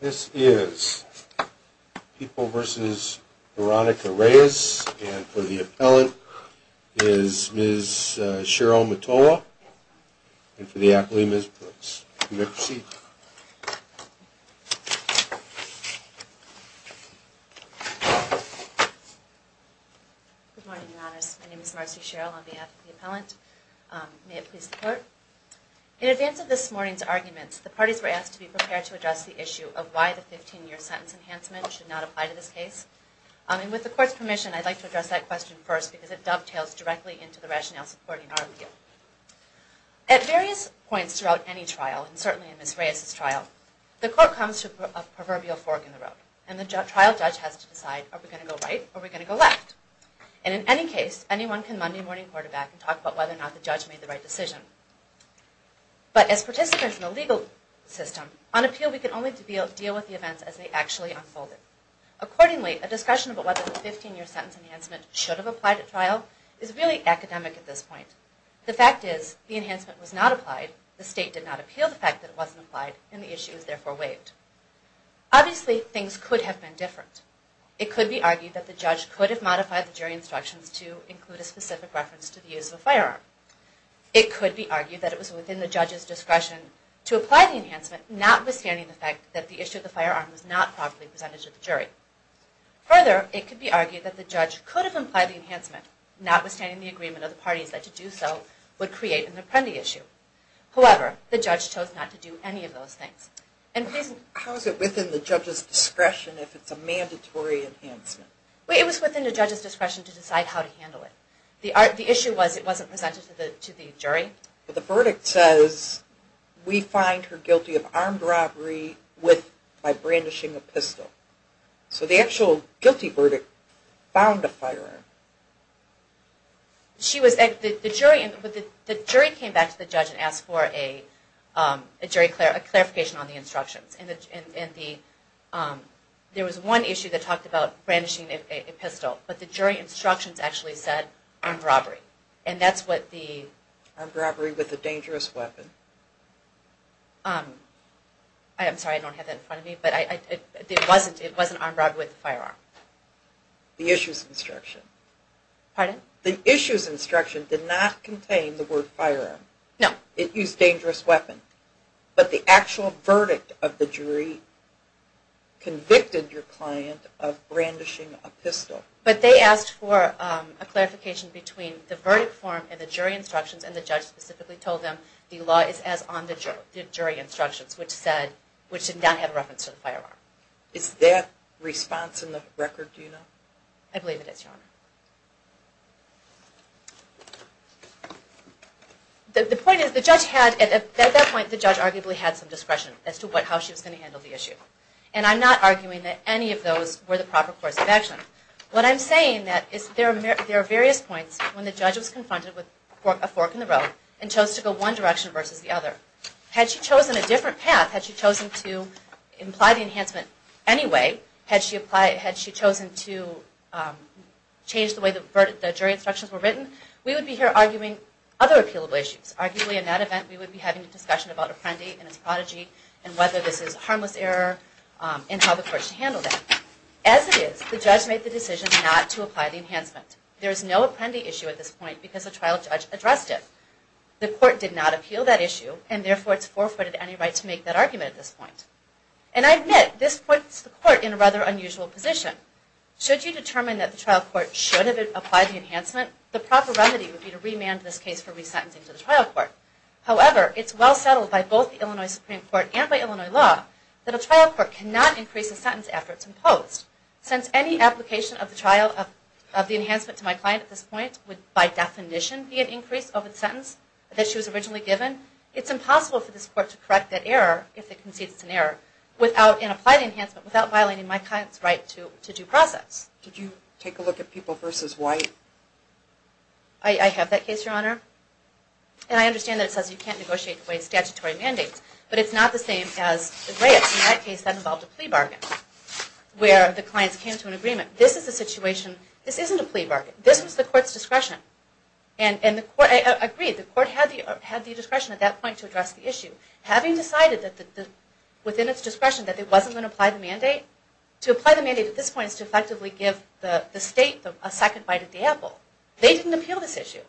This is People v. Veronica Reyes, and for the appellant is Ms. Cheryl Matoa, and for the applement is Ms. Marcy. Good morning, your honors. My name is Marcy Cheryl on behalf of the appellant. May it please the court. In advance of this morning's arguments, the parties were asked to be prepared to address the issue of why the 15-year sentence enhancement should not apply to this case. And with the court's permission, I'd like to address that question first because it dovetails directly into the rationale supporting our appeal. At various points throughout any trial, and certainly in Ms. Reyes' trial, the court comes to a proverbial fork in the road. And the trial judge has to decide, are we going to go right or are we going to go left? And in any case, anyone can Monday morning quarterback and talk about whether or not the judge made the right decision. But as participants in the legal system, on appeal we can only deal with the events as they actually unfolded. Accordingly, a discussion about whether the 15-year sentence enhancement should have applied at trial is really academic at this point. The fact is, the enhancement was not applied, the state did not appeal the fact that it wasn't applied, and the issue was therefore waived. Obviously, things could have been different. It could be argued that the judge could have modified the jury instructions to include a specific reference to the use of a firearm. It could be argued that it was within the judge's discretion to apply the enhancement, notwithstanding the fact that the issue of the firearm was not properly presented to the jury. Further, it could be argued that the judge could have implied the enhancement, notwithstanding the agreement of the parties that to do so would create an apprendi issue. However, the judge chose not to do any of those things. How is it within the judge's discretion if it's a mandatory enhancement? It was within the judge's discretion to decide how to handle it. The issue was it wasn't presented to the jury. But the verdict says, we find her guilty of armed robbery by brandishing a pistol. So the actual guilty verdict found a firearm. The jury came back to the judge and asked for a clarification on the instructions. There was one issue that talked about brandishing a pistol, but the jury instructions actually said armed robbery. Armed robbery with a dangerous weapon. I'm sorry, I don't have that in front of me, but it wasn't armed robbery with a firearm. The issue's instruction. Pardon? The issue's instruction did not contain the word firearm. No. It used dangerous weapon. But the actual verdict of the jury convicted your client of brandishing a pistol. But they asked for a clarification between the verdict form and the jury instructions, and the judge specifically told them the law is as on the jury instructions, which said, which did not have reference to the firearm. Is that response in the record, do you know? I believe it is, Your Honor. The point is, at that point, the judge arguably had some discretion as to how she was going to handle the issue. And I'm not arguing that any of those were the proper course of action. What I'm saying is that there are various points when the judge was confronted with a fork in the road and chose to go one direction versus the other. Had she chosen a different path, had she chosen to imply the enhancement anyway, had she chosen to change the way the jury instructions were written, we would be here arguing other appealable issues. Arguably, in that event, we would be having a discussion about Apprendi and his prodigy and whether this is a harmless error and how the court should handle that. As it is, the judge made the decision not to apply the enhancement. There is no Apprendi issue at this point because the trial judge addressed it. The court did not appeal that issue, and therefore it's forefooted any right to make that argument at this point. And I admit, this puts the court in a rather unusual position. Should you determine that the trial court should have applied the enhancement, the proper remedy would be to remand this case for resentencing to the trial court. However, it's well settled by both the Illinois Supreme Court and by Illinois law that a trial court cannot increase a sentence after it's imposed, since any application of the enhancement to my client at this point would, by definition, be an increase of the sentence that she was originally given. It's impossible for this court to correct that error, if it concedes it's an error, and apply the enhancement without violating my client's right to due process. Did you take a look at People v. White? I have that case, Your Honor. And I understand that it says you can't negotiate in ways statutory mandates, but it's not the same as the Graetz in that case that involved a plea bargain, where the clients came to an agreement. This is a situation, this isn't a plea bargain. This was the court's discretion. And I agree, the court had the discretion at that point to address the issue. Having decided within its discretion that it wasn't going to apply the mandate, to apply the mandate at this point is to effectively give the state a second bite at the apple. They didn't appeal this issue.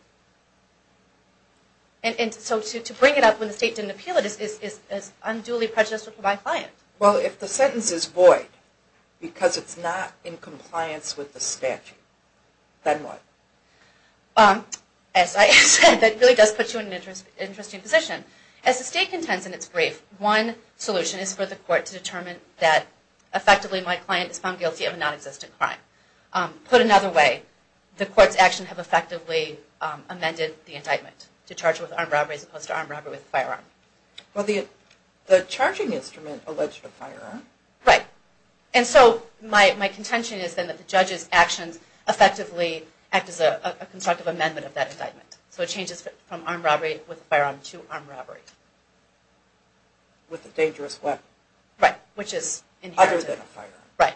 And so to bring it up when the state didn't appeal it is unduly prejudicial to my client. Well, if the sentence is void because it's not in compliance with the statute, then what? As I said, that really does put you in an interesting position. As the state contends in its brief, one solution is for the court to determine that effectively my client is found guilty of a nonexistent crime. Put another way, the court's actions have effectively amended the indictment, to charge with armed robbery as opposed to armed robbery with a firearm. Well, the charging instrument alleged a firearm. Right. And so my contention is then that the judge's actions effectively act as a constructive amendment of that indictment. So it changes from armed robbery with a firearm to armed robbery. With a dangerous weapon. Right. Other than a firearm. Right.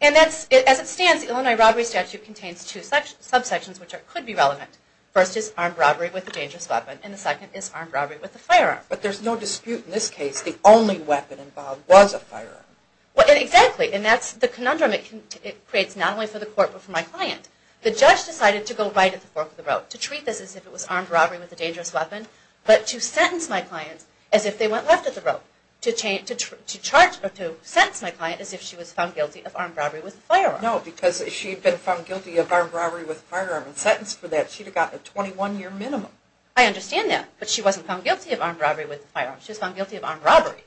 And as it stands, the Illinois robbery statute contains two subsections which could be relevant. First is armed robbery with a dangerous weapon, and the second is armed robbery with a firearm. But there's no dispute in this case the only weapon involved was a firearm. Exactly. And that's the conundrum it creates not only for the court but for my client. The judge decided to go right at the fork of the rope, to treat this as if it was armed robbery with a dangerous weapon, but to sentence my client as if they went left at the rope, to sentence my client as if she was found guilty of armed robbery with a firearm. No, because if she'd been found guilty of armed robbery with a firearm and sentenced for that, she'd have gotten a 21-year minimum. I understand that, but she wasn't found guilty of armed robbery with a firearm, she was found guilty of armed robbery.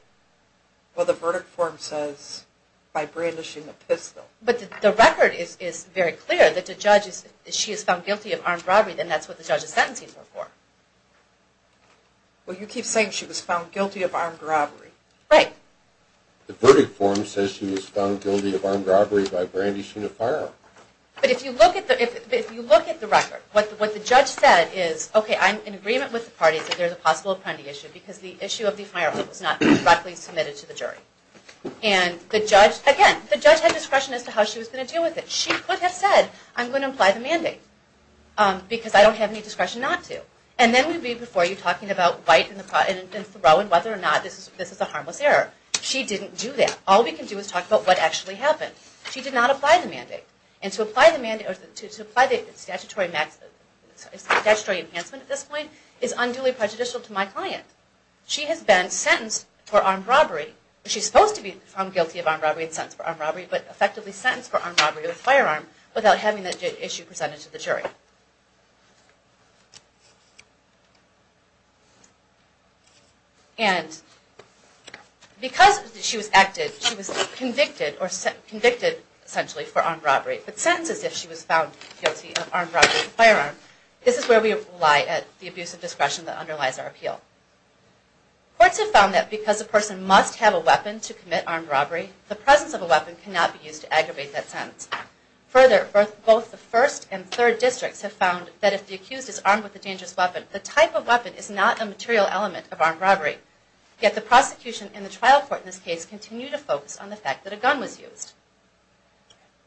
Well, the verdict form says by brandishing a pistol. But the record is very clear that the judge is, if she is found guilty of armed robbery then that's what the judge is sentencing her for. Well, you keep saying she was found guilty of armed robbery. Right. The verdict form says she was found guilty of armed robbery by brandishing a firearm. But if you look at the record, what the judge said is, okay, I'm in agreement with the parties that there's a possible apprendi issue because the issue of the firearm was not directly submitted to the jury. And the judge, again, the judge had discretion as to how she was going to deal with it. She could have said, I'm going to apply the mandate, because I don't have any discretion not to. And then we'd be before you talking about White and Thoreau and whether or not this is a harmless error. She didn't do that. All we can do is talk about what actually happened. She did not apply the mandate. And to apply the statutory enhancement at this point is unduly prejudicial to my client. She has been sentenced for armed robbery. She's supposed to be found guilty of armed robbery and sentenced for armed robbery, but effectively sentenced for armed robbery with a firearm without having the issue presented to the jury. And because she was acted, she was convicted or convicted essentially for armed robbery, but sentenced as if she was found guilty of armed robbery with a firearm, this is where we lie at the abuse of discretion that underlies our appeal. Courts have found that because a person must have a weapon to commit armed robbery, the presence of a weapon cannot be used to aggravate that sentence. Further, both the first and third districts have found that if the accused is armed with a dangerous weapon, the type of weapon is not a material element of armed robbery. Yet the prosecution and the trial court in this case continue to focus on the fact that a gun was used.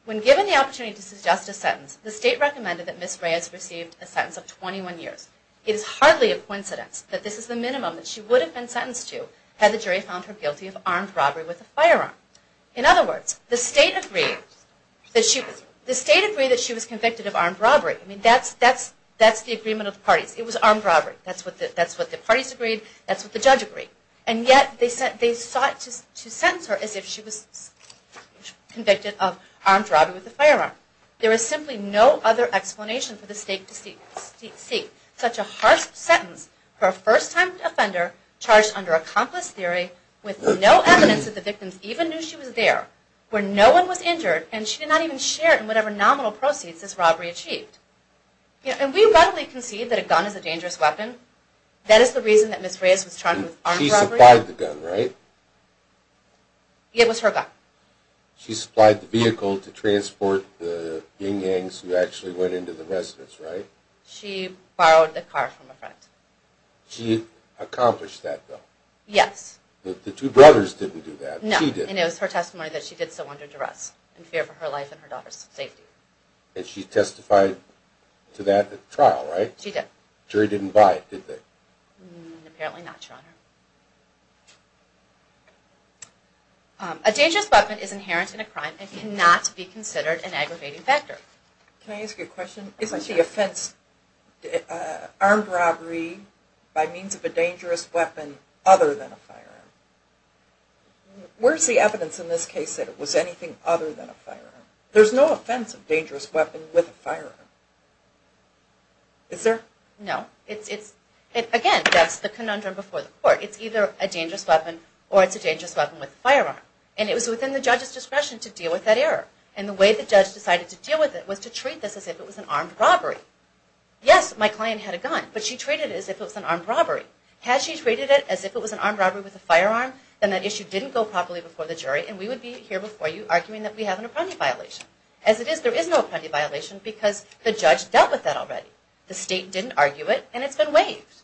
When given the opportunity to suggest a sentence, the state recommended that Ms. Rayas receive a sentence of 21 years. It is hardly a coincidence that this is the minimum that she would have been sentenced to had the jury found her guilty of armed robbery with a firearm. In other words, the state agreed that she was convicted of armed robbery. That's the agreement of the parties. It was armed robbery. That's what the parties agreed. That's what the judge agreed. And yet they sought to sentence her as if she was convicted of armed robbery with a firearm. There is simply no other explanation for the state to seek such a harsh sentence for a first-time offender charged under accomplice theory with no evidence that the victims even knew she was there, where no one was injured, and she did not even share in whatever nominal proceeds this robbery achieved. And we readily concede that a gun is a dangerous weapon. That is the reason that Ms. Rayas was charged with armed robbery. She supplied the gun, right? It was her gun. She supplied the vehicle to transport the yin-yangs who actually went into the residence, right? She borrowed the car from a friend. She accomplished that though? Yes. The two brothers didn't do that. She did. No, and it was her testimony that she did so under duress in fear for her life and her daughter's safety. And she testified to that at the trial, right? She did. The jury didn't buy it, did they? Apparently not, Your Honor. A dangerous weapon is inherent in a crime and cannot be considered an aggravating factor. Can I ask you a question? Isn't the offense armed robbery by means of a dangerous weapon other than a firearm? Where's the evidence in this case that it was anything other than a firearm? There's no offense of dangerous weapon with a firearm. Is there? No. Again, that's the conundrum before the court. It's either a dangerous weapon or it's a dangerous weapon with a firearm. And it was within the judge's discretion to deal with that error. And the way the judge decided to deal with it was to treat this as if it was an armed robbery. Yes, my client had a gun, but she treated it as if it was an armed robbery. Had she treated it as if it was an armed robbery with a firearm, then that issue didn't go properly before the jury, and we would be here before you arguing that we have an apprentice violation. As it is, there is no apprentice violation because the judge dealt with that already. The state didn't argue it, and it's been waived.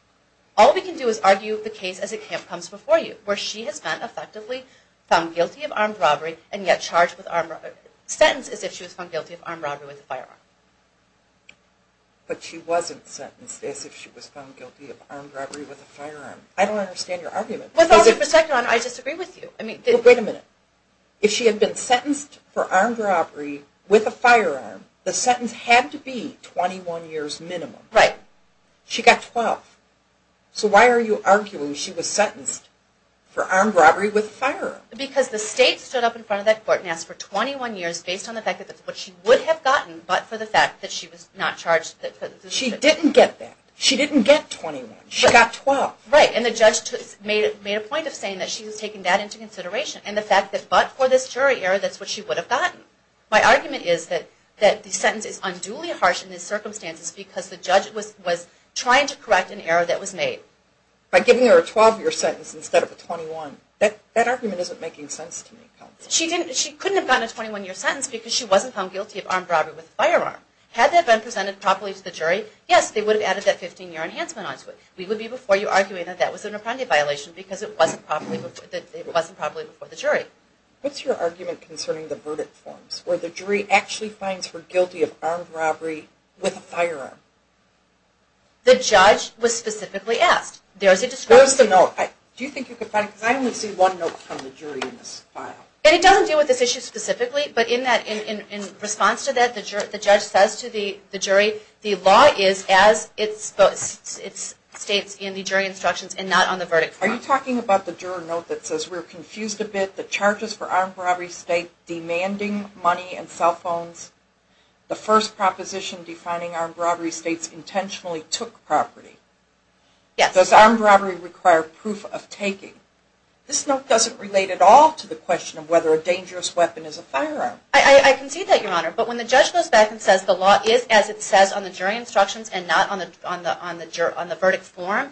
All we can do is argue the case as it comes before you, where she has been effectively found guilty of armed robbery and yet charged with armed robbery, sentenced as if she was found guilty of armed robbery with a firearm. But she wasn't sentenced as if she was found guilty of armed robbery with a firearm. I don't understand your argument. With all due respect, Your Honor, I disagree with you. Wait a minute. If she had been sentenced for armed robbery with a firearm, the sentence had to be 21 years minimum. Right. She got 12. So why are you arguing she was sentenced for armed robbery with a firearm? Because the state stood up in front of that court and asked for 21 years based on the fact that that's what she would have gotten, but for the fact that she was not charged. She didn't get that. She didn't get 21. She got 12. Right. And the judge made a point of saying that she was taking that into consideration, and the fact that but for this jury error, that's what she would have gotten. My argument is that the sentence is unduly harsh in these circumstances because the judge was trying to correct an error that was made. By giving her a 12-year sentence instead of a 21. That argument isn't making sense to me. She couldn't have gotten a 21-year sentence because she wasn't found guilty of armed robbery with a firearm. Had that been presented properly to the jury, yes, they would have added that 15-year enhancement onto it. We would be before you arguing that that was an appropriate violation because it wasn't properly before the jury. What's your argument concerning the verdict forms where the jury actually finds her guilty of armed robbery with a firearm? The judge was specifically asked. There's a discussion. There's the note. Do you think you could find it? Because I only see one note from the jury in this file. It doesn't deal with this issue specifically, but in response to that, the judge says to the jury, the law is as it states in the jury instructions and not on the verdict form. Are you talking about the juror note that says, because we're confused a bit, the charges for armed robbery state demanding money and cell phones, the first proposition defining armed robbery states intentionally took property. Yes. Does armed robbery require proof of taking? This note doesn't relate at all to the question of whether a dangerous weapon is a firearm. I concede that, Your Honor, but when the judge goes back and says the law is as it says on the jury instructions and not on the verdict form,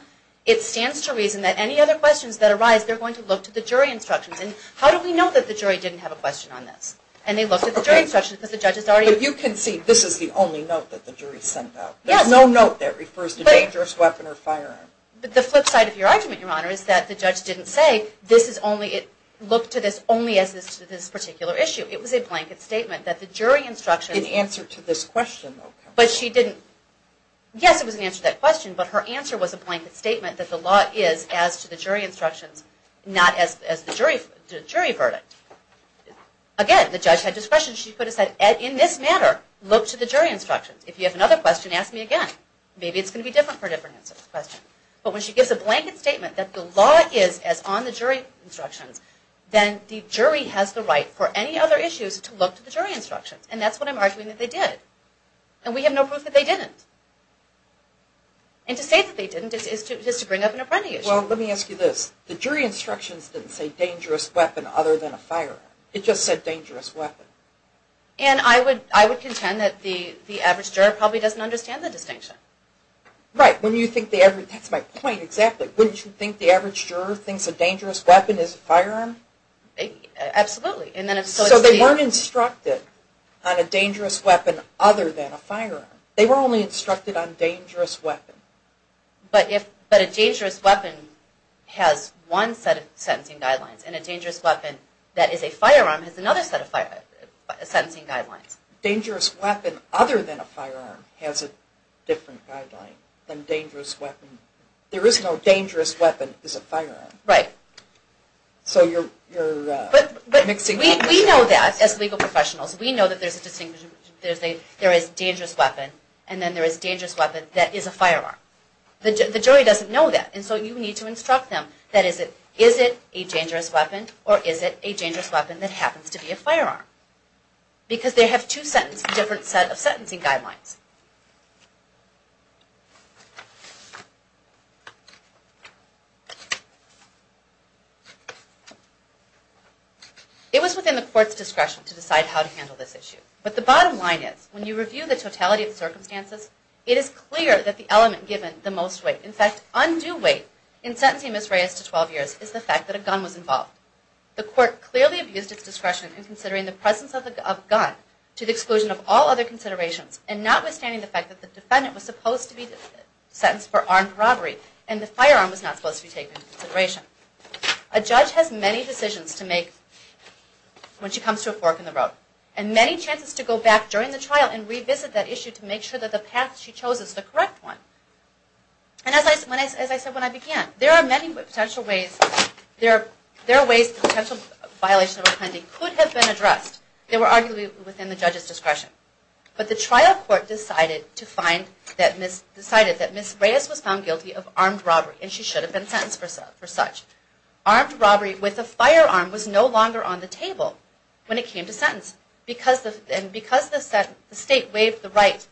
it stands to reason that any other questions that arise, they're going to look to the jury instructions. And how do we know that the jury didn't have a question on this? And they looked at the jury instructions because the judge is already- But you concede this is the only note that the jury sent out. There's no note that refers to dangerous weapon or firearm. But the flip side of your argument, Your Honor, is that the judge didn't say, look to this only as this particular issue. It was a blanket statement that the jury instructions- In answer to this question, okay. Yes, it was in answer to that question, but her answer was a blanket statement that the law is as to the jury instructions, not as the jury verdict. Again, the judge had discretion. She could have said, in this matter, look to the jury instructions. If you have another question, ask me again. Maybe it's going to be different for a different question. But when she gives a blanket statement that the law is as on the jury instructions, then the jury has the right for any other issues to look to the jury instructions. And that's what I'm arguing that they did. And we have no proof that they didn't. And to say that they didn't is to bring up an apparent issue. Well, let me ask you this. The jury instructions didn't say dangerous weapon other than a firearm. It just said dangerous weapon. And I would contend that the average juror probably doesn't understand the distinction. Right. That's my point exactly. Wouldn't you think the average juror thinks a dangerous weapon is a firearm? Absolutely. So they weren't instructed on a dangerous weapon other than a firearm. They were only instructed on dangerous weapon. But a dangerous weapon has one set of sentencing guidelines. And a dangerous weapon that is a firearm has another set of sentencing guidelines. Dangerous weapon other than a firearm has a different guideline than dangerous weapon. There is no dangerous weapon is a firearm. Right. But we know that as legal professionals, we know that there is a dangerous weapon and then there is a dangerous weapon that is a firearm. The jury doesn't know that. And so you need to instruct them that is it a dangerous weapon or is it a dangerous weapon that happens to be a firearm. Because they have two different sets of sentencing guidelines. It was within the court's discretion to decide how to handle this issue. But the bottom line is when you review the totality of the circumstances, it is clear that the element given the most weight, in fact undue weight, in sentencing Ms. Reyes to 12 years is the fact that a gun was involved. The court clearly abused its discretion in considering the presence of a gun to the exclusion of all other considerations and notwithstanding the fact that the defendant was supposed to be sentenced for armed robbery and the firearm was not supposed to be taken into consideration. A judge has many decisions to make when she comes to a fork in the road and many chances to go back during the trial and revisit that issue to make sure that the path she chose is the correct one. And as I said when I began, there are many potential ways, there are ways potential violations of a pending could have been addressed. They were arguably within the judge's discretion. But the trial court decided that Ms. Reyes was found guilty of armed robbery and she should have been sentenced for such. Armed robbery with a firearm was no longer on the table when it came to sentence and because the state waived the right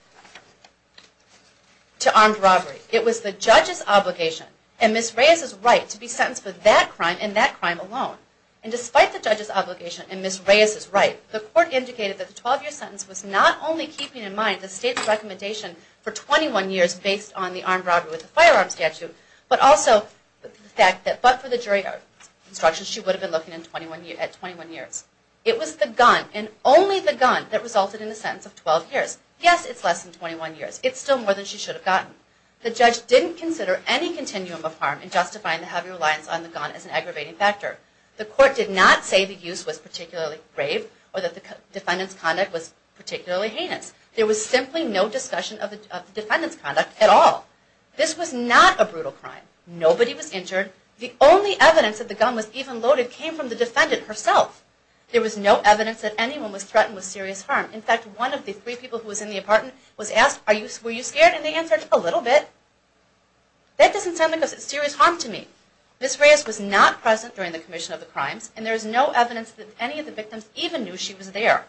to armed robbery, it was the judge's obligation and Ms. Reyes' right to be sentenced for that crime and that crime alone. And despite the judge's obligation and Ms. Reyes' right, the court indicated that the 12-year sentence was not only keeping in mind the state's recommendation for 21 years based on the armed robbery with a firearm statute, but also the fact that, but for the jury instructions, she would have been looking at 21 years. It was the gun and only the gun that resulted in the sentence of 12 years. Yes, it's less than 21 years. It's still more than she should have gotten. The judge didn't consider any continuum of harm in justifying the heavy reliance on the gun as an aggravating factor. The court did not say the use was particularly grave or that the defendant's conduct was particularly heinous. There was simply no discussion of the defendant's conduct at all. This was not a brutal crime. Nobody was injured. The only evidence that the gun was even loaded came from the defendant herself. There was no evidence that anyone was threatened with serious harm. In fact, one of the three people who was in the apartment was asked, were you scared? And they answered, a little bit. That doesn't sound like serious harm to me. Ms. Reyes was not present during the commission of the crimes and there is no evidence that any of the victims even knew she was there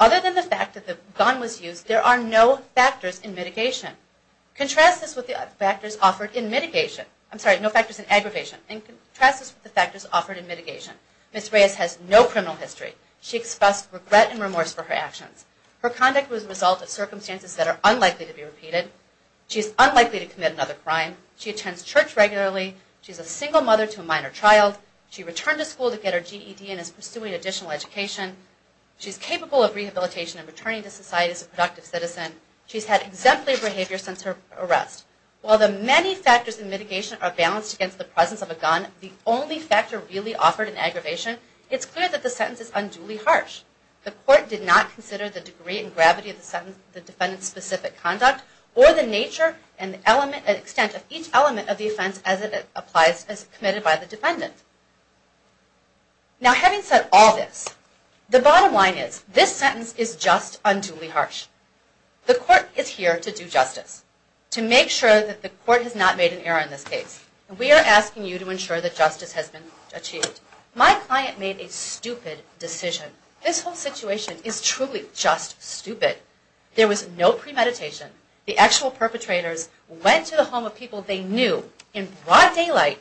Other than the fact that the gun was used, there are no factors in mitigation. Contrast this with the factors offered in mitigation. I'm sorry, no factors in aggravation. Contrast this with the factors offered in mitigation. Ms. Reyes has no criminal history. She expressed regret and remorse for her actions. Her conduct was the result of circumstances that are unlikely to be repeated. She is unlikely to commit another crime. She attends church regularly. She is a single mother to a minor child. She returned to school to get her GED and is pursuing additional education. She is capable of rehabilitation and returning to society as a productive citizen. She has had exemplary behavior since her arrest. While the many factors in mitigation are balanced against the presence of a gun, the only factor really offered in aggravation, it's clear that the sentence is unduly harsh. The court did not consider the degree and gravity of the defendant's specific conduct or the nature and extent of each element of the offense as it applies, as committed by the defendant. Now having said all this, the bottom line is this sentence is just unduly harsh. The court is here to do justice, to make sure that the court has not made an error in this case. We are asking you to ensure that justice has been achieved. My client made a stupid decision. This whole situation is truly just stupid. There was no premeditation. The actual perpetrators went to the home of people they knew in broad daylight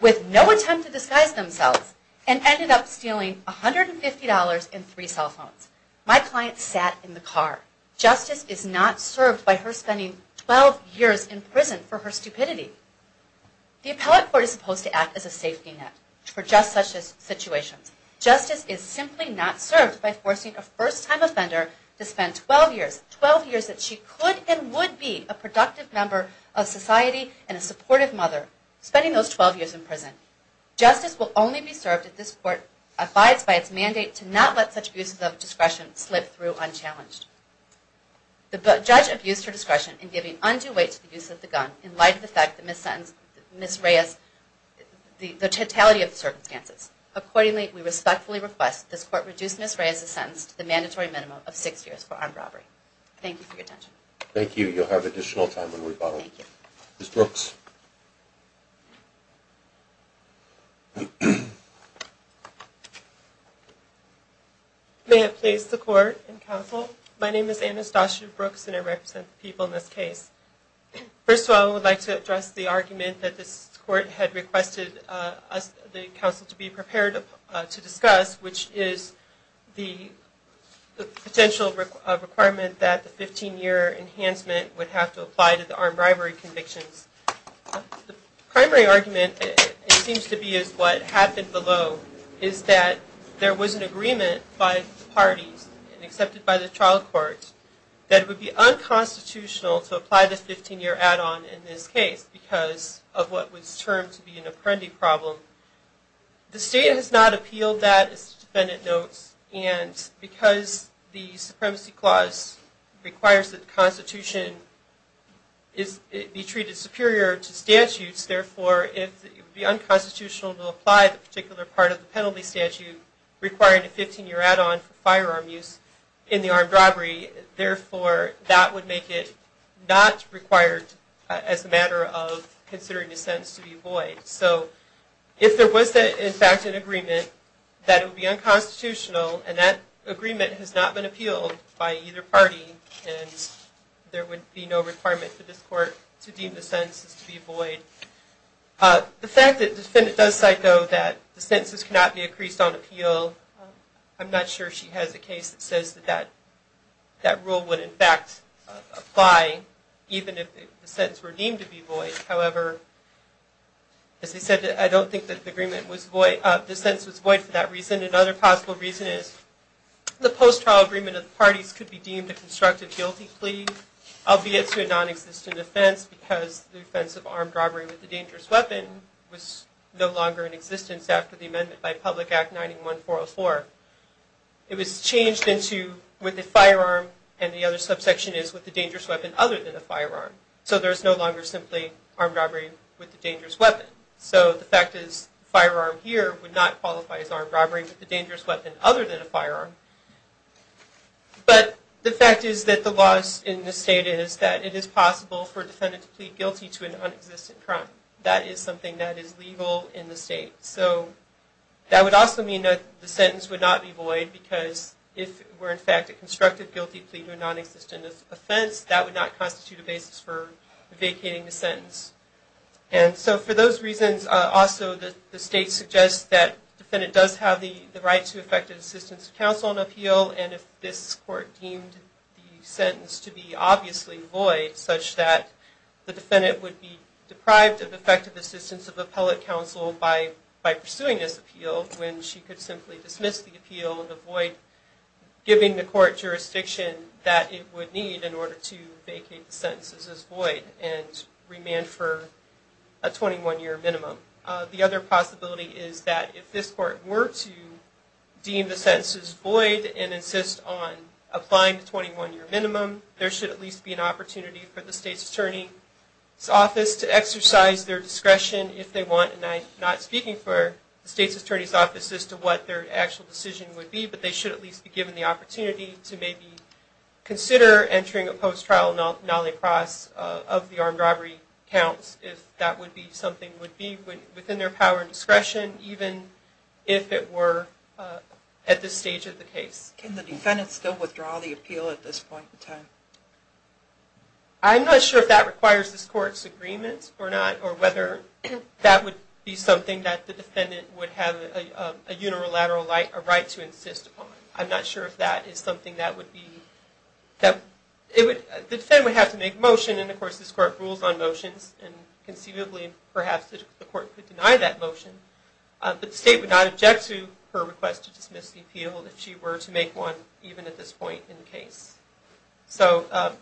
with no attempt to disguise themselves and ended up stealing $150 and three cell phones. My client sat in the car. Justice is not served by her spending 12 years in prison for her stupidity. The appellate court is supposed to act as a safety net for just such situations. Justice is simply not served by forcing a first-time offender to spend 12 years, 12 years that she could and would be a productive member of society and a supportive mother, spending those 12 years in prison. Justice will only be served if this court abides by its mandate to not let such abuses of discretion slip through unchallenged. The judge abused her discretion in giving undue weight to the use of the gun in light of the fact that Ms. Reyes, the totality of the circumstances. Accordingly, we respectfully request this court reduce Ms. Reyes' sentence to the mandatory minimum of six years for armed robbery. Thank you for your attention. Thank you. You'll have additional time when we follow up. Thank you. Ms. Brooks. May it please the court and counsel, my name is Anastasia Brooks and I represent the people in this case. First of all, I would like to address the argument that this court had requested the counsel to be prepared to discuss, which is the potential requirement that the 15-year enhancement would have to apply to the armed robbery convictions. The primary argument, it seems to be, is what happened below, is that there was an agreement by the parties and accepted by the trial court that it would be unconstitutional to apply the 15-year add-on in this case because of what was termed to be an apprendee problem. The state has not appealed that, as the defendant notes, and because the supremacy clause requires that the Constitution be treated superior to statutes, therefore it would be unconstitutional to apply the particular part of the penalty statute requiring a 15-year add-on for firearm use in the armed robbery. Therefore, that would make it not required as a matter of considering the sentence to be void. So if there was, in fact, an agreement that it would be unconstitutional and that agreement has not been appealed by either party and there would be no requirement for this court to deem the sentences to be void. The fact that the defendant does cite, though, that the sentences cannot be increased on appeal, I'm not sure she has a case that says that that rule would, in fact, apply even if the sentences were deemed to be void. However, as I said, I don't think that the agreement was void. The sentence was void for that reason. Another possible reason is the post-trial agreement of the parties could be deemed a constructive guilty plea, albeit to a nonexistent offense because the offense of armed robbery with a dangerous weapon was no longer in existence after the amendment by Public Act 91-404. It was changed into with a firearm and the other subsection is with a dangerous weapon other than a firearm. So there's no longer simply armed robbery with a dangerous weapon. So the fact is firearm here would not qualify as armed robbery with a dangerous weapon other than a firearm. But the fact is that the laws in the state is that it is possible for a defendant to plead guilty to an nonexistent crime. That is something that is legal in the state. So that would also mean that the sentence would not be void because if it were, in fact, a constructive guilty plea to a nonexistent offense, that would not constitute a basis for vacating the sentence. And so for those reasons, also the state suggests that the defendant does have the right to effective assistance of counsel and appeal and if this court deemed the sentence to be obviously void such that the defendant would be deprived of effective assistance of appellate counsel by pursuing this appeal when she could simply dismiss the appeal and avoid giving the court jurisdiction that it would need in order to vacate the sentences as void and remand for a 21-year minimum. The other possibility is that if this court were to deem the sentences void and insist on applying the 21-year minimum, there should at least be an opportunity for the state's attorney's office to exercise their discretion if they want, and I'm not speaking for the state's attorney's office as to what their actual decision would be, but they should at least be given the opportunity to maybe consider entering a post-trial nollie cross of the armed robbery counts if that would be something that would be within their power and discretion even if it were at this stage of the case. Can the defendant still withdraw the appeal at this point in time? I'm not sure if that requires this court's agreement or not or whether that would be something that the defendant would have a unilateral right to insist upon. I'm not sure if that is something that would be... The defendant would have to make a motion, and of course this court rules on motions, and conceivably perhaps the court could deny that motion, but the state would not object to her request to dismiss the appeal if she were to make one even at this point in the case. So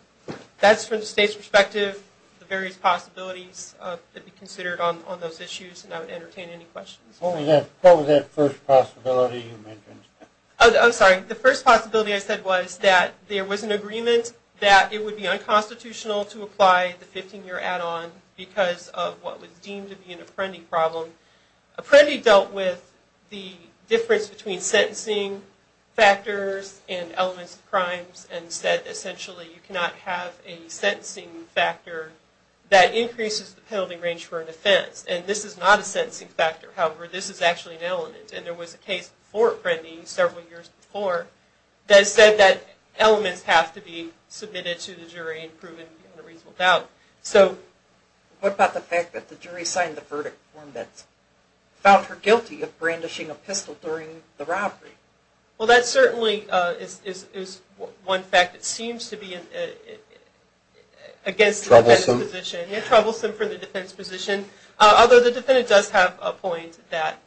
that's from the state's perspective, the various possibilities that would be considered on those issues, and I would entertain any questions. What was that first possibility you mentioned? I'm sorry. The first possibility I said was that there was an agreement that it would be unconstitutional to apply the 15-year add-on because of what was deemed to be an Apprendi problem. Apprendi dealt with the difference between sentencing factors and elements of crimes and said essentially you cannot have a sentencing factor that increases the penalty range for an offense, and this is not a sentencing factor. However, this is actually an element, and there was a case before Apprendi, several years before, that said that elements have to be submitted to the jury and proven beyond a reasonable doubt. What about the fact that the jury signed the verdict form that found her guilty of brandishing a pistol during the robbery? Well, that certainly is one fact that seems to be against the defense position. Troublesome? Troublesome for the defense position, although the defendant does have a point that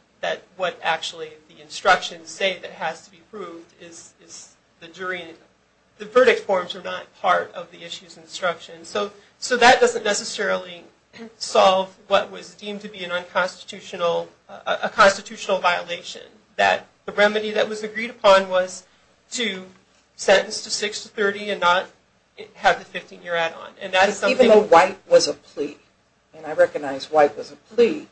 what actually the instructions say that has to be proved is the jury. The verdict forms are not part of the issue's instructions. So that doesn't necessarily solve what was deemed to be a constitutional violation, that the remedy that was agreed upon was to sentence to 6 to 30 and not have the 15-year add-on. Even though White was a plea, and I recognize White was a plea,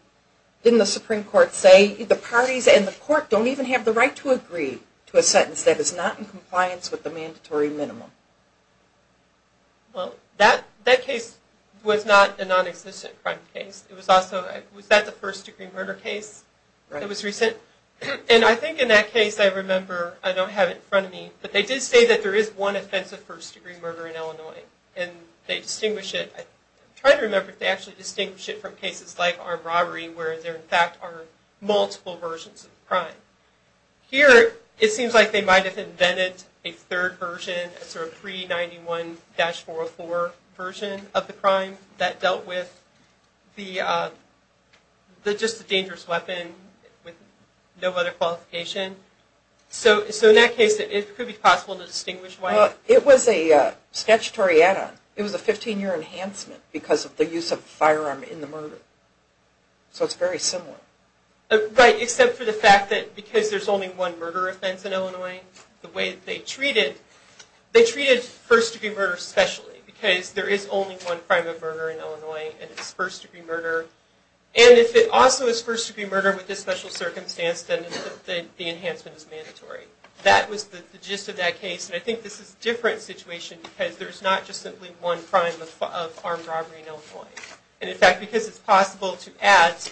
didn't the Supreme Court say the parties and the court don't even have the right to agree to a sentence that is not in compliance with the mandatory minimum? Well, that case was not a non-existent crime case. It was also, was that the first-degree murder case? Right. It was recent. And I think in that case, I remember, I don't have it in front of me, but they did say that there is one offensive first-degree murder in Illinois, and they distinguish it. I'm trying to remember if they actually distinguish it from cases like armed robbery, where there in fact are multiple versions of the crime. Here, it seems like they might have invented a third version, a sort of pre-91-404 version of the crime that dealt with just a dangerous weapon with no other qualification. So in that case, it could be possible to distinguish White. Well, it was a statutory add-on. It was a 15-year enhancement because of the use of a firearm in the murder. So it's very similar. Right, except for the fact that because there's only one murder offense in Illinois, the way that they treated, they treated first-degree murder specially, because there is only one crime of murder in Illinois, and it's first-degree murder. And if it also is first-degree murder with this special circumstance, then the enhancement is mandatory. That was the gist of that case, and I think this is a different situation because there's not just simply one crime of armed robbery in Illinois. And in fact, because it's possible to add,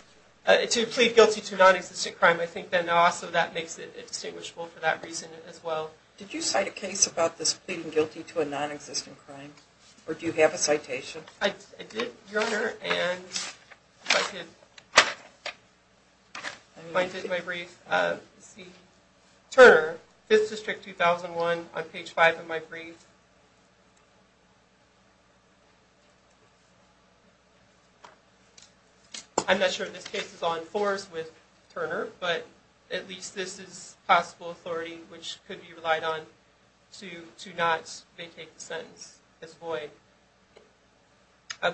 to plead guilty to a nonexistent crime, I think then also that makes it distinguishable for that reason as well. Did you cite a case about this pleading guilty to a nonexistent crime, or do you have a citation? I did, Your Honor, and if I could find it in my brief. Turner, 5th District, 2001, on page 5 of my brief. I'm not sure if this case is on fours with Turner, but at least this is possible authority, which could be relied on to not vacate the sentence as void.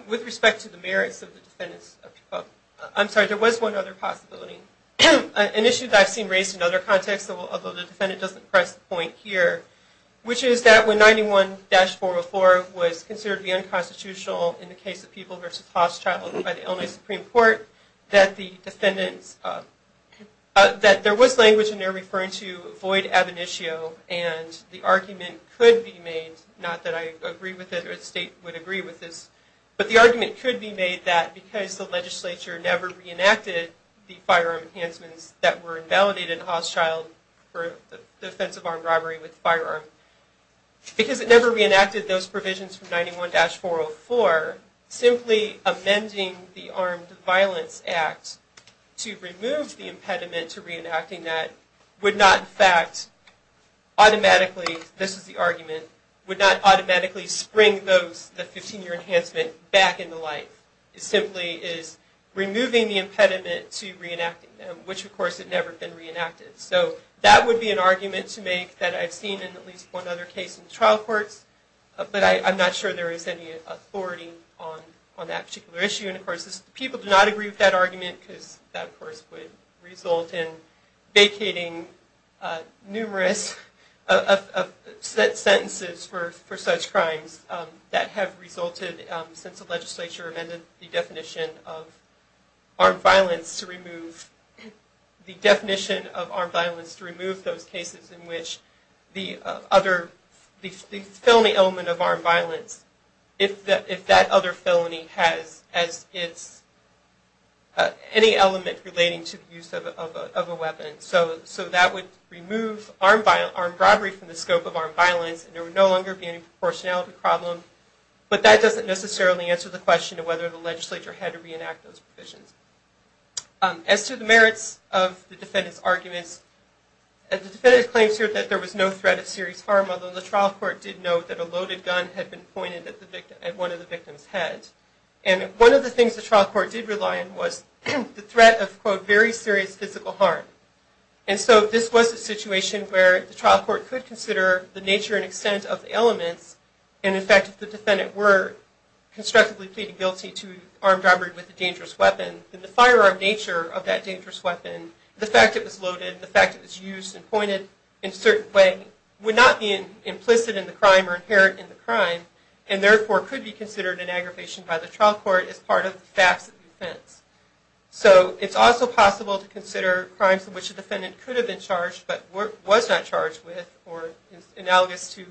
With respect to the merits of the defendants, I'm sorry, there was one other possibility. An issue that I've seen raised in other contexts, although the defendant doesn't press the point here, which is that when 91-404 was considered to be unconstitutional in the case of people by the Illinois Supreme Court, that there was language in there referring to void ab initio, and the argument could be made, not that I agree with it or the state would agree with this, but the argument could be made that because the legislature never reenacted the firearm enhancements that were invalidated in Hoss Child for the offense of armed robbery with firearms, because it never reenacted those provisions from 91-404, simply amending the Armed Violence Act to remove the impediment to reenacting that would not, in fact, automatically, this is the argument, would not automatically spring the 15-year enhancement back into life. It simply is removing the impediment to reenacting them, which, of course, had never been reenacted. So that would be an argument to make that I've seen in at least one other case in the trial courts, but I'm not sure there is any authority on that particular issue. And, of course, people do not agree with that argument because that, of course, would result in vacating numerous sentences for such crimes that have resulted since the legislature amended the definition of armed violence to remove those cases in which the felony element of armed violence, if that other felony has any element relating to the use of a weapon, so that would remove armed robbery from the scope of armed violence and there would no longer be any proportionality problem. But that doesn't necessarily answer the question of whether the legislature had to reenact those provisions. As to the merits of the defendant's arguments, the defendant claims here that there was no threat of serious harm, although the trial court did note that a loaded gun had been pointed at one of the victim's head. And one of the things the trial court did rely on was the threat of, quote, very serious physical harm. And so this was a situation where the trial court could consider the nature and extent of the elements and, in fact, if the defendant were constructively pleaded guilty to armed robbery with a dangerous weapon, then the firearm nature of that dangerous weapon, the fact it was loaded, the fact it was used and pointed in a certain way, would not be implicit in the crime or inherent in the crime and, therefore, could be considered an aggravation by the trial court as part of the facts of the offense. So it's also possible to consider crimes in which the defendant could have been charged but was not charged with or analogous to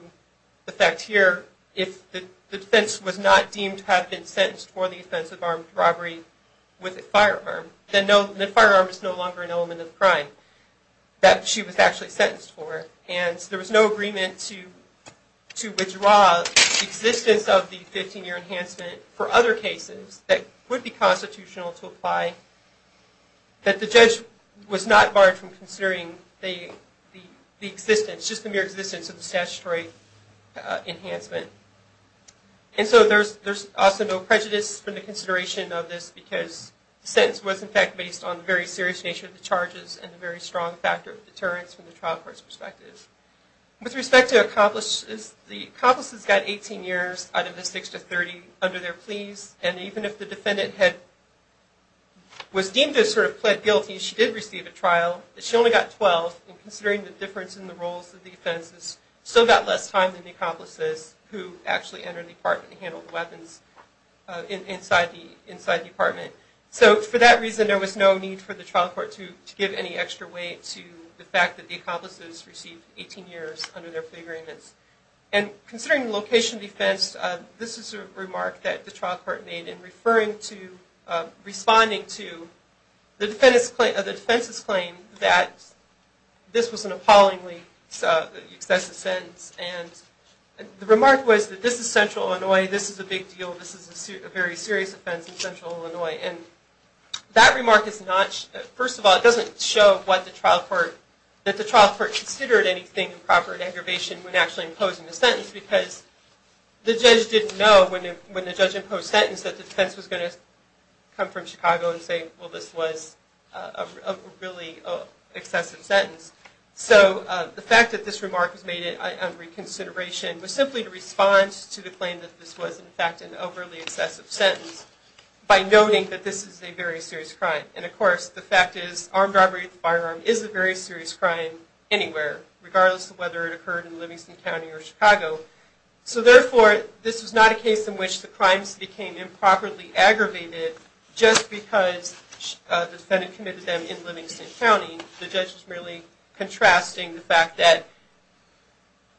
the fact here, if the defense was not deemed to have been sentenced for the offense of armed robbery with a firearm, then the firearm is no longer an element of the crime that she was actually sentenced for. And so there was no agreement to withdraw the existence of the 15-year enhancement for other cases that would be constitutional to apply, that the judge was not barred from considering the existence, just the mere existence of the statutory enhancement. And so there's also no prejudice from the consideration of this because the sentence was, in fact, based on the very serious nature of the charges and the very strong factor of deterrence from the trial court's perspective. With respect to accomplices, the accomplices got 18 years out of the 6 to 30 under their pleas, and even if the defendant was deemed to have sort of pled guilty and she did receive a trial, she only got 12, and considering the difference in the roles of the offenses, still got less time than the accomplices who actually entered the apartment and handled the weapons inside the apartment. So for that reason, there was no need for the trial court to give any extra weight to the fact that the accomplices received 18 years under their plea agreements. And considering location defense, this is a remark that the trial court made in referring to, responding to the defense's claim that this was an appallingly excessive sentence. And the remark was that this is Central Illinois, this is a big deal, this is a very serious offense in Central Illinois. And that remark is not, first of all, it doesn't show what the trial court, that the trial court considered anything improper in aggravation when actually imposing the sentence, because the judge didn't know when the judge imposed sentence that the defense was going to come from Chicago and say, well, this was a really excessive sentence. So the fact that this remark was made on reconsideration was simply to respond to the claim that this was, in fact, an overly excessive sentence by noting that this is a very serious crime. And of course, the fact is armed robbery with a firearm is a very serious crime anywhere, regardless of whether it occurred in Livingston County or Chicago. So therefore, this was not a case in which the crimes became improperly aggravated just because the defendant committed them in Livingston County. The judge was merely contrasting the fact that,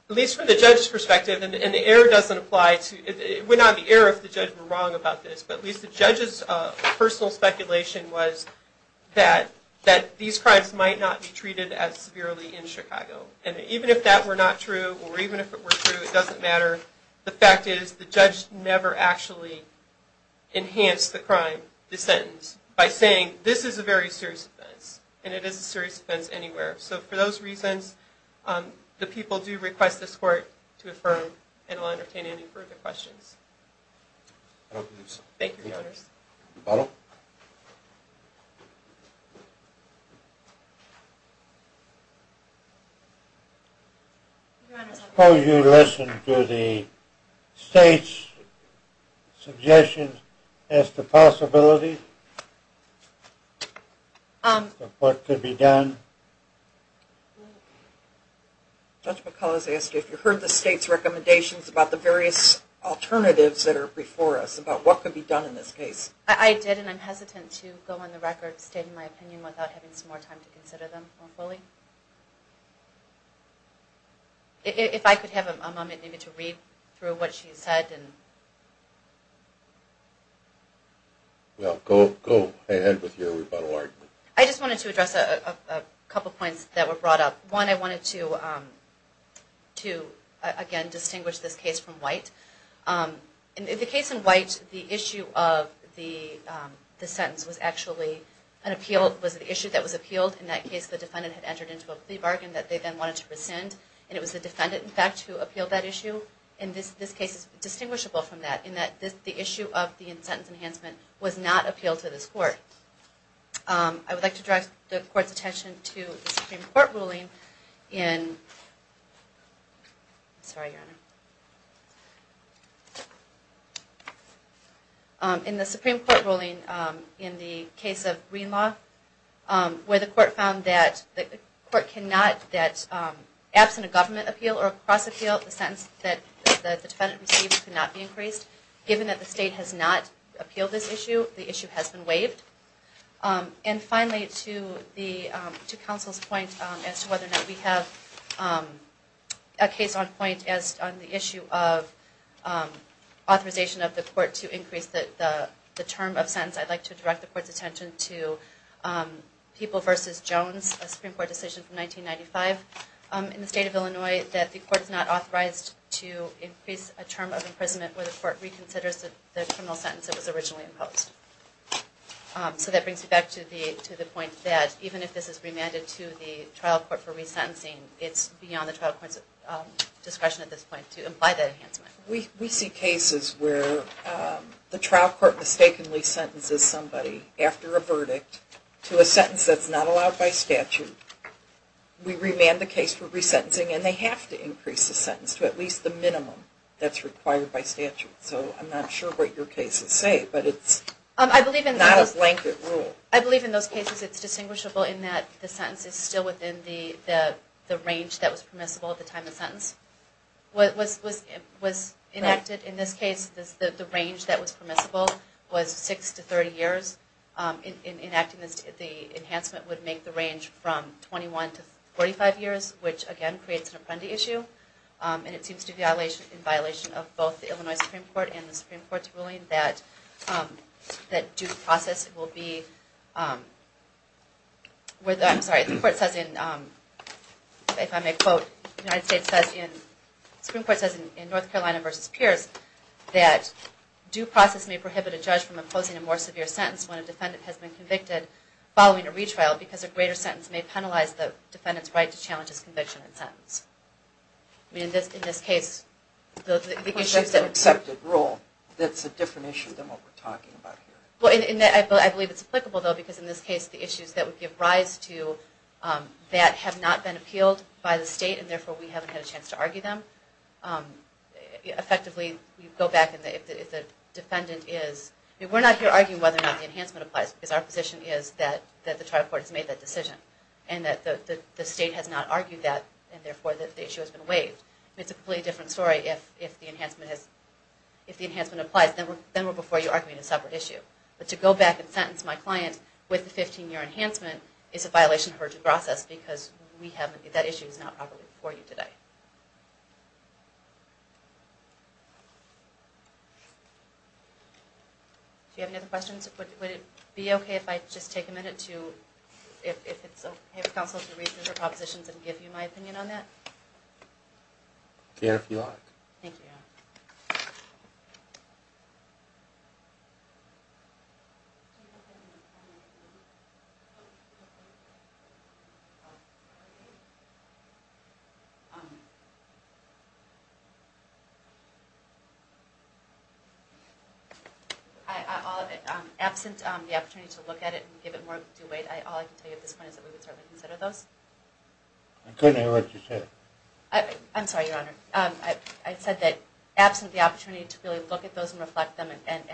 at least from the judge's perspective, and the error doesn't apply to, it would not be error if the judge were wrong about this, but at least the judge's personal speculation was that these crimes might not be treated as severely in Chicago. And even if that were not true, or even if it were true, it doesn't matter. The fact is the judge never actually enhanced the crime, the sentence, by saying this is a very serious offense, and it is a serious offense anywhere. So for those reasons, the people do request this court to affirm, and I'll entertain any further questions. I don't believe so. Thank you, Your Honors. Bottle? Your Honors, I propose you listen to the state's suggestions as to possibilities of what could be done. Judge McCullough has asked if you heard the state's recommendations about the various alternatives that are before us, about what could be done in this case. I did, and I'm hesitant to go on the record stating my opinion without having some more time to consider them more fully. If I could have a moment to read through what she said. Well, go ahead with your rebuttal argument. I just wanted to address a couple points that were brought up. One, I wanted to, again, distinguish this case from White. In the case in White, the issue of the sentence was actually an issue that was appealed. In that case, the defendant had entered into a plea bargain that they then wanted to rescind, and it was the defendant, in fact, who appealed that issue. And this case is distinguishable from that, in that the issue of the sentence enhancement was not appealed to this court. I would like to direct the court's attention to the Supreme Court ruling in the case of Green Law, where the court found that absent a government appeal or a cross-appeal, the sentence that the defendant received could not be increased. Given that the state has not appealed this issue, the issue has been waived. And finally, to counsel's point as to whether or not we have a case on point on the issue of authorization of the court to increase the term of sentence, I'd like to direct the court's attention to People v. Jones, a Supreme Court decision from 1995 in the state of Illinois, that the court is not authorized to increase a term of imprisonment where the court reconsiders the criminal sentence that was originally imposed. So that brings me back to the point that even if this is remanded to the trial court for resentencing, it's beyond the trial court's discretion at this point to imply that enhancement. We see cases where the trial court mistakenly sentences somebody after a verdict to a sentence that's not allowed by statute. We remand the case for resentencing, and they have to increase the sentence to at least the minimum that's required by statute. So I'm not sure what your cases say, but it's not a blanket rule. I believe in those cases it's distinguishable in that the sentence is still within the range that was permissible at the time the sentence was enacted. In this case, the range that was permissible was 6 to 30 years. In enacting this, the enhancement would make the range from 21 to 45 years, which, again, creates an apprendee issue. And it seems to be in violation of both the Illinois Supreme Court and the Supreme Court's ruling that due process will be... I'm sorry, the Supreme Court says in North Carolina v. Pierce that due process may prohibit a judge from imposing a more severe sentence when a defendant has been convicted following a retrial because a greater sentence may penalize the defendant's right to challenge his conviction in sentence. I mean, in this case, the issues that... It's an accepted rule. That's a different issue than what we're talking about here. Well, I believe it's applicable, though, because in this case, the issues that would give rise to that have not been appealed by the state, and therefore we haven't had a chance to argue them. Effectively, you go back and if the defendant is... We're not here arguing whether or not the enhancement applies, because our position is that the trial court has made that decision and that the state has not argued that, and therefore the issue has been waived. It's a completely different story if the enhancement applies. Then we're before you arguing a separate issue. But to go back and sentence my client with a 15-year enhancement is a violation of urgent process because we haven't... That issue is not properly before you today. Do you have any other questions? Would it be okay if I just take a minute to... If it's okay with counsel to read through the propositions and give you my opinion on that? Sure, if you like. Thank you. Yeah. Absent the opportunity to look at it and give it more due weight, all I can tell you at this point is that we would certainly consider those. I couldn't hear what you said. I'm sorry, Your Honor. I said that absent the opportunity to really look at those and reflect them and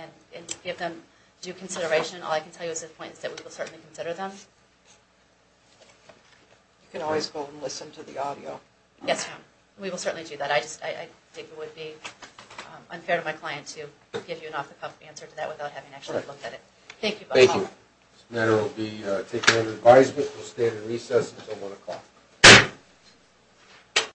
give them due consideration, all I can tell you at this point is that we will certainly consider them. You can always go and listen to the audio. Yes, Your Honor. We will certainly do that. I think it would be unfair to my client to give you an off-the-cuff answer to that without having actually looked at it. Thank you. Thank you. This matter will be taken under advisement. We'll stay at a recess until 1 o'clock.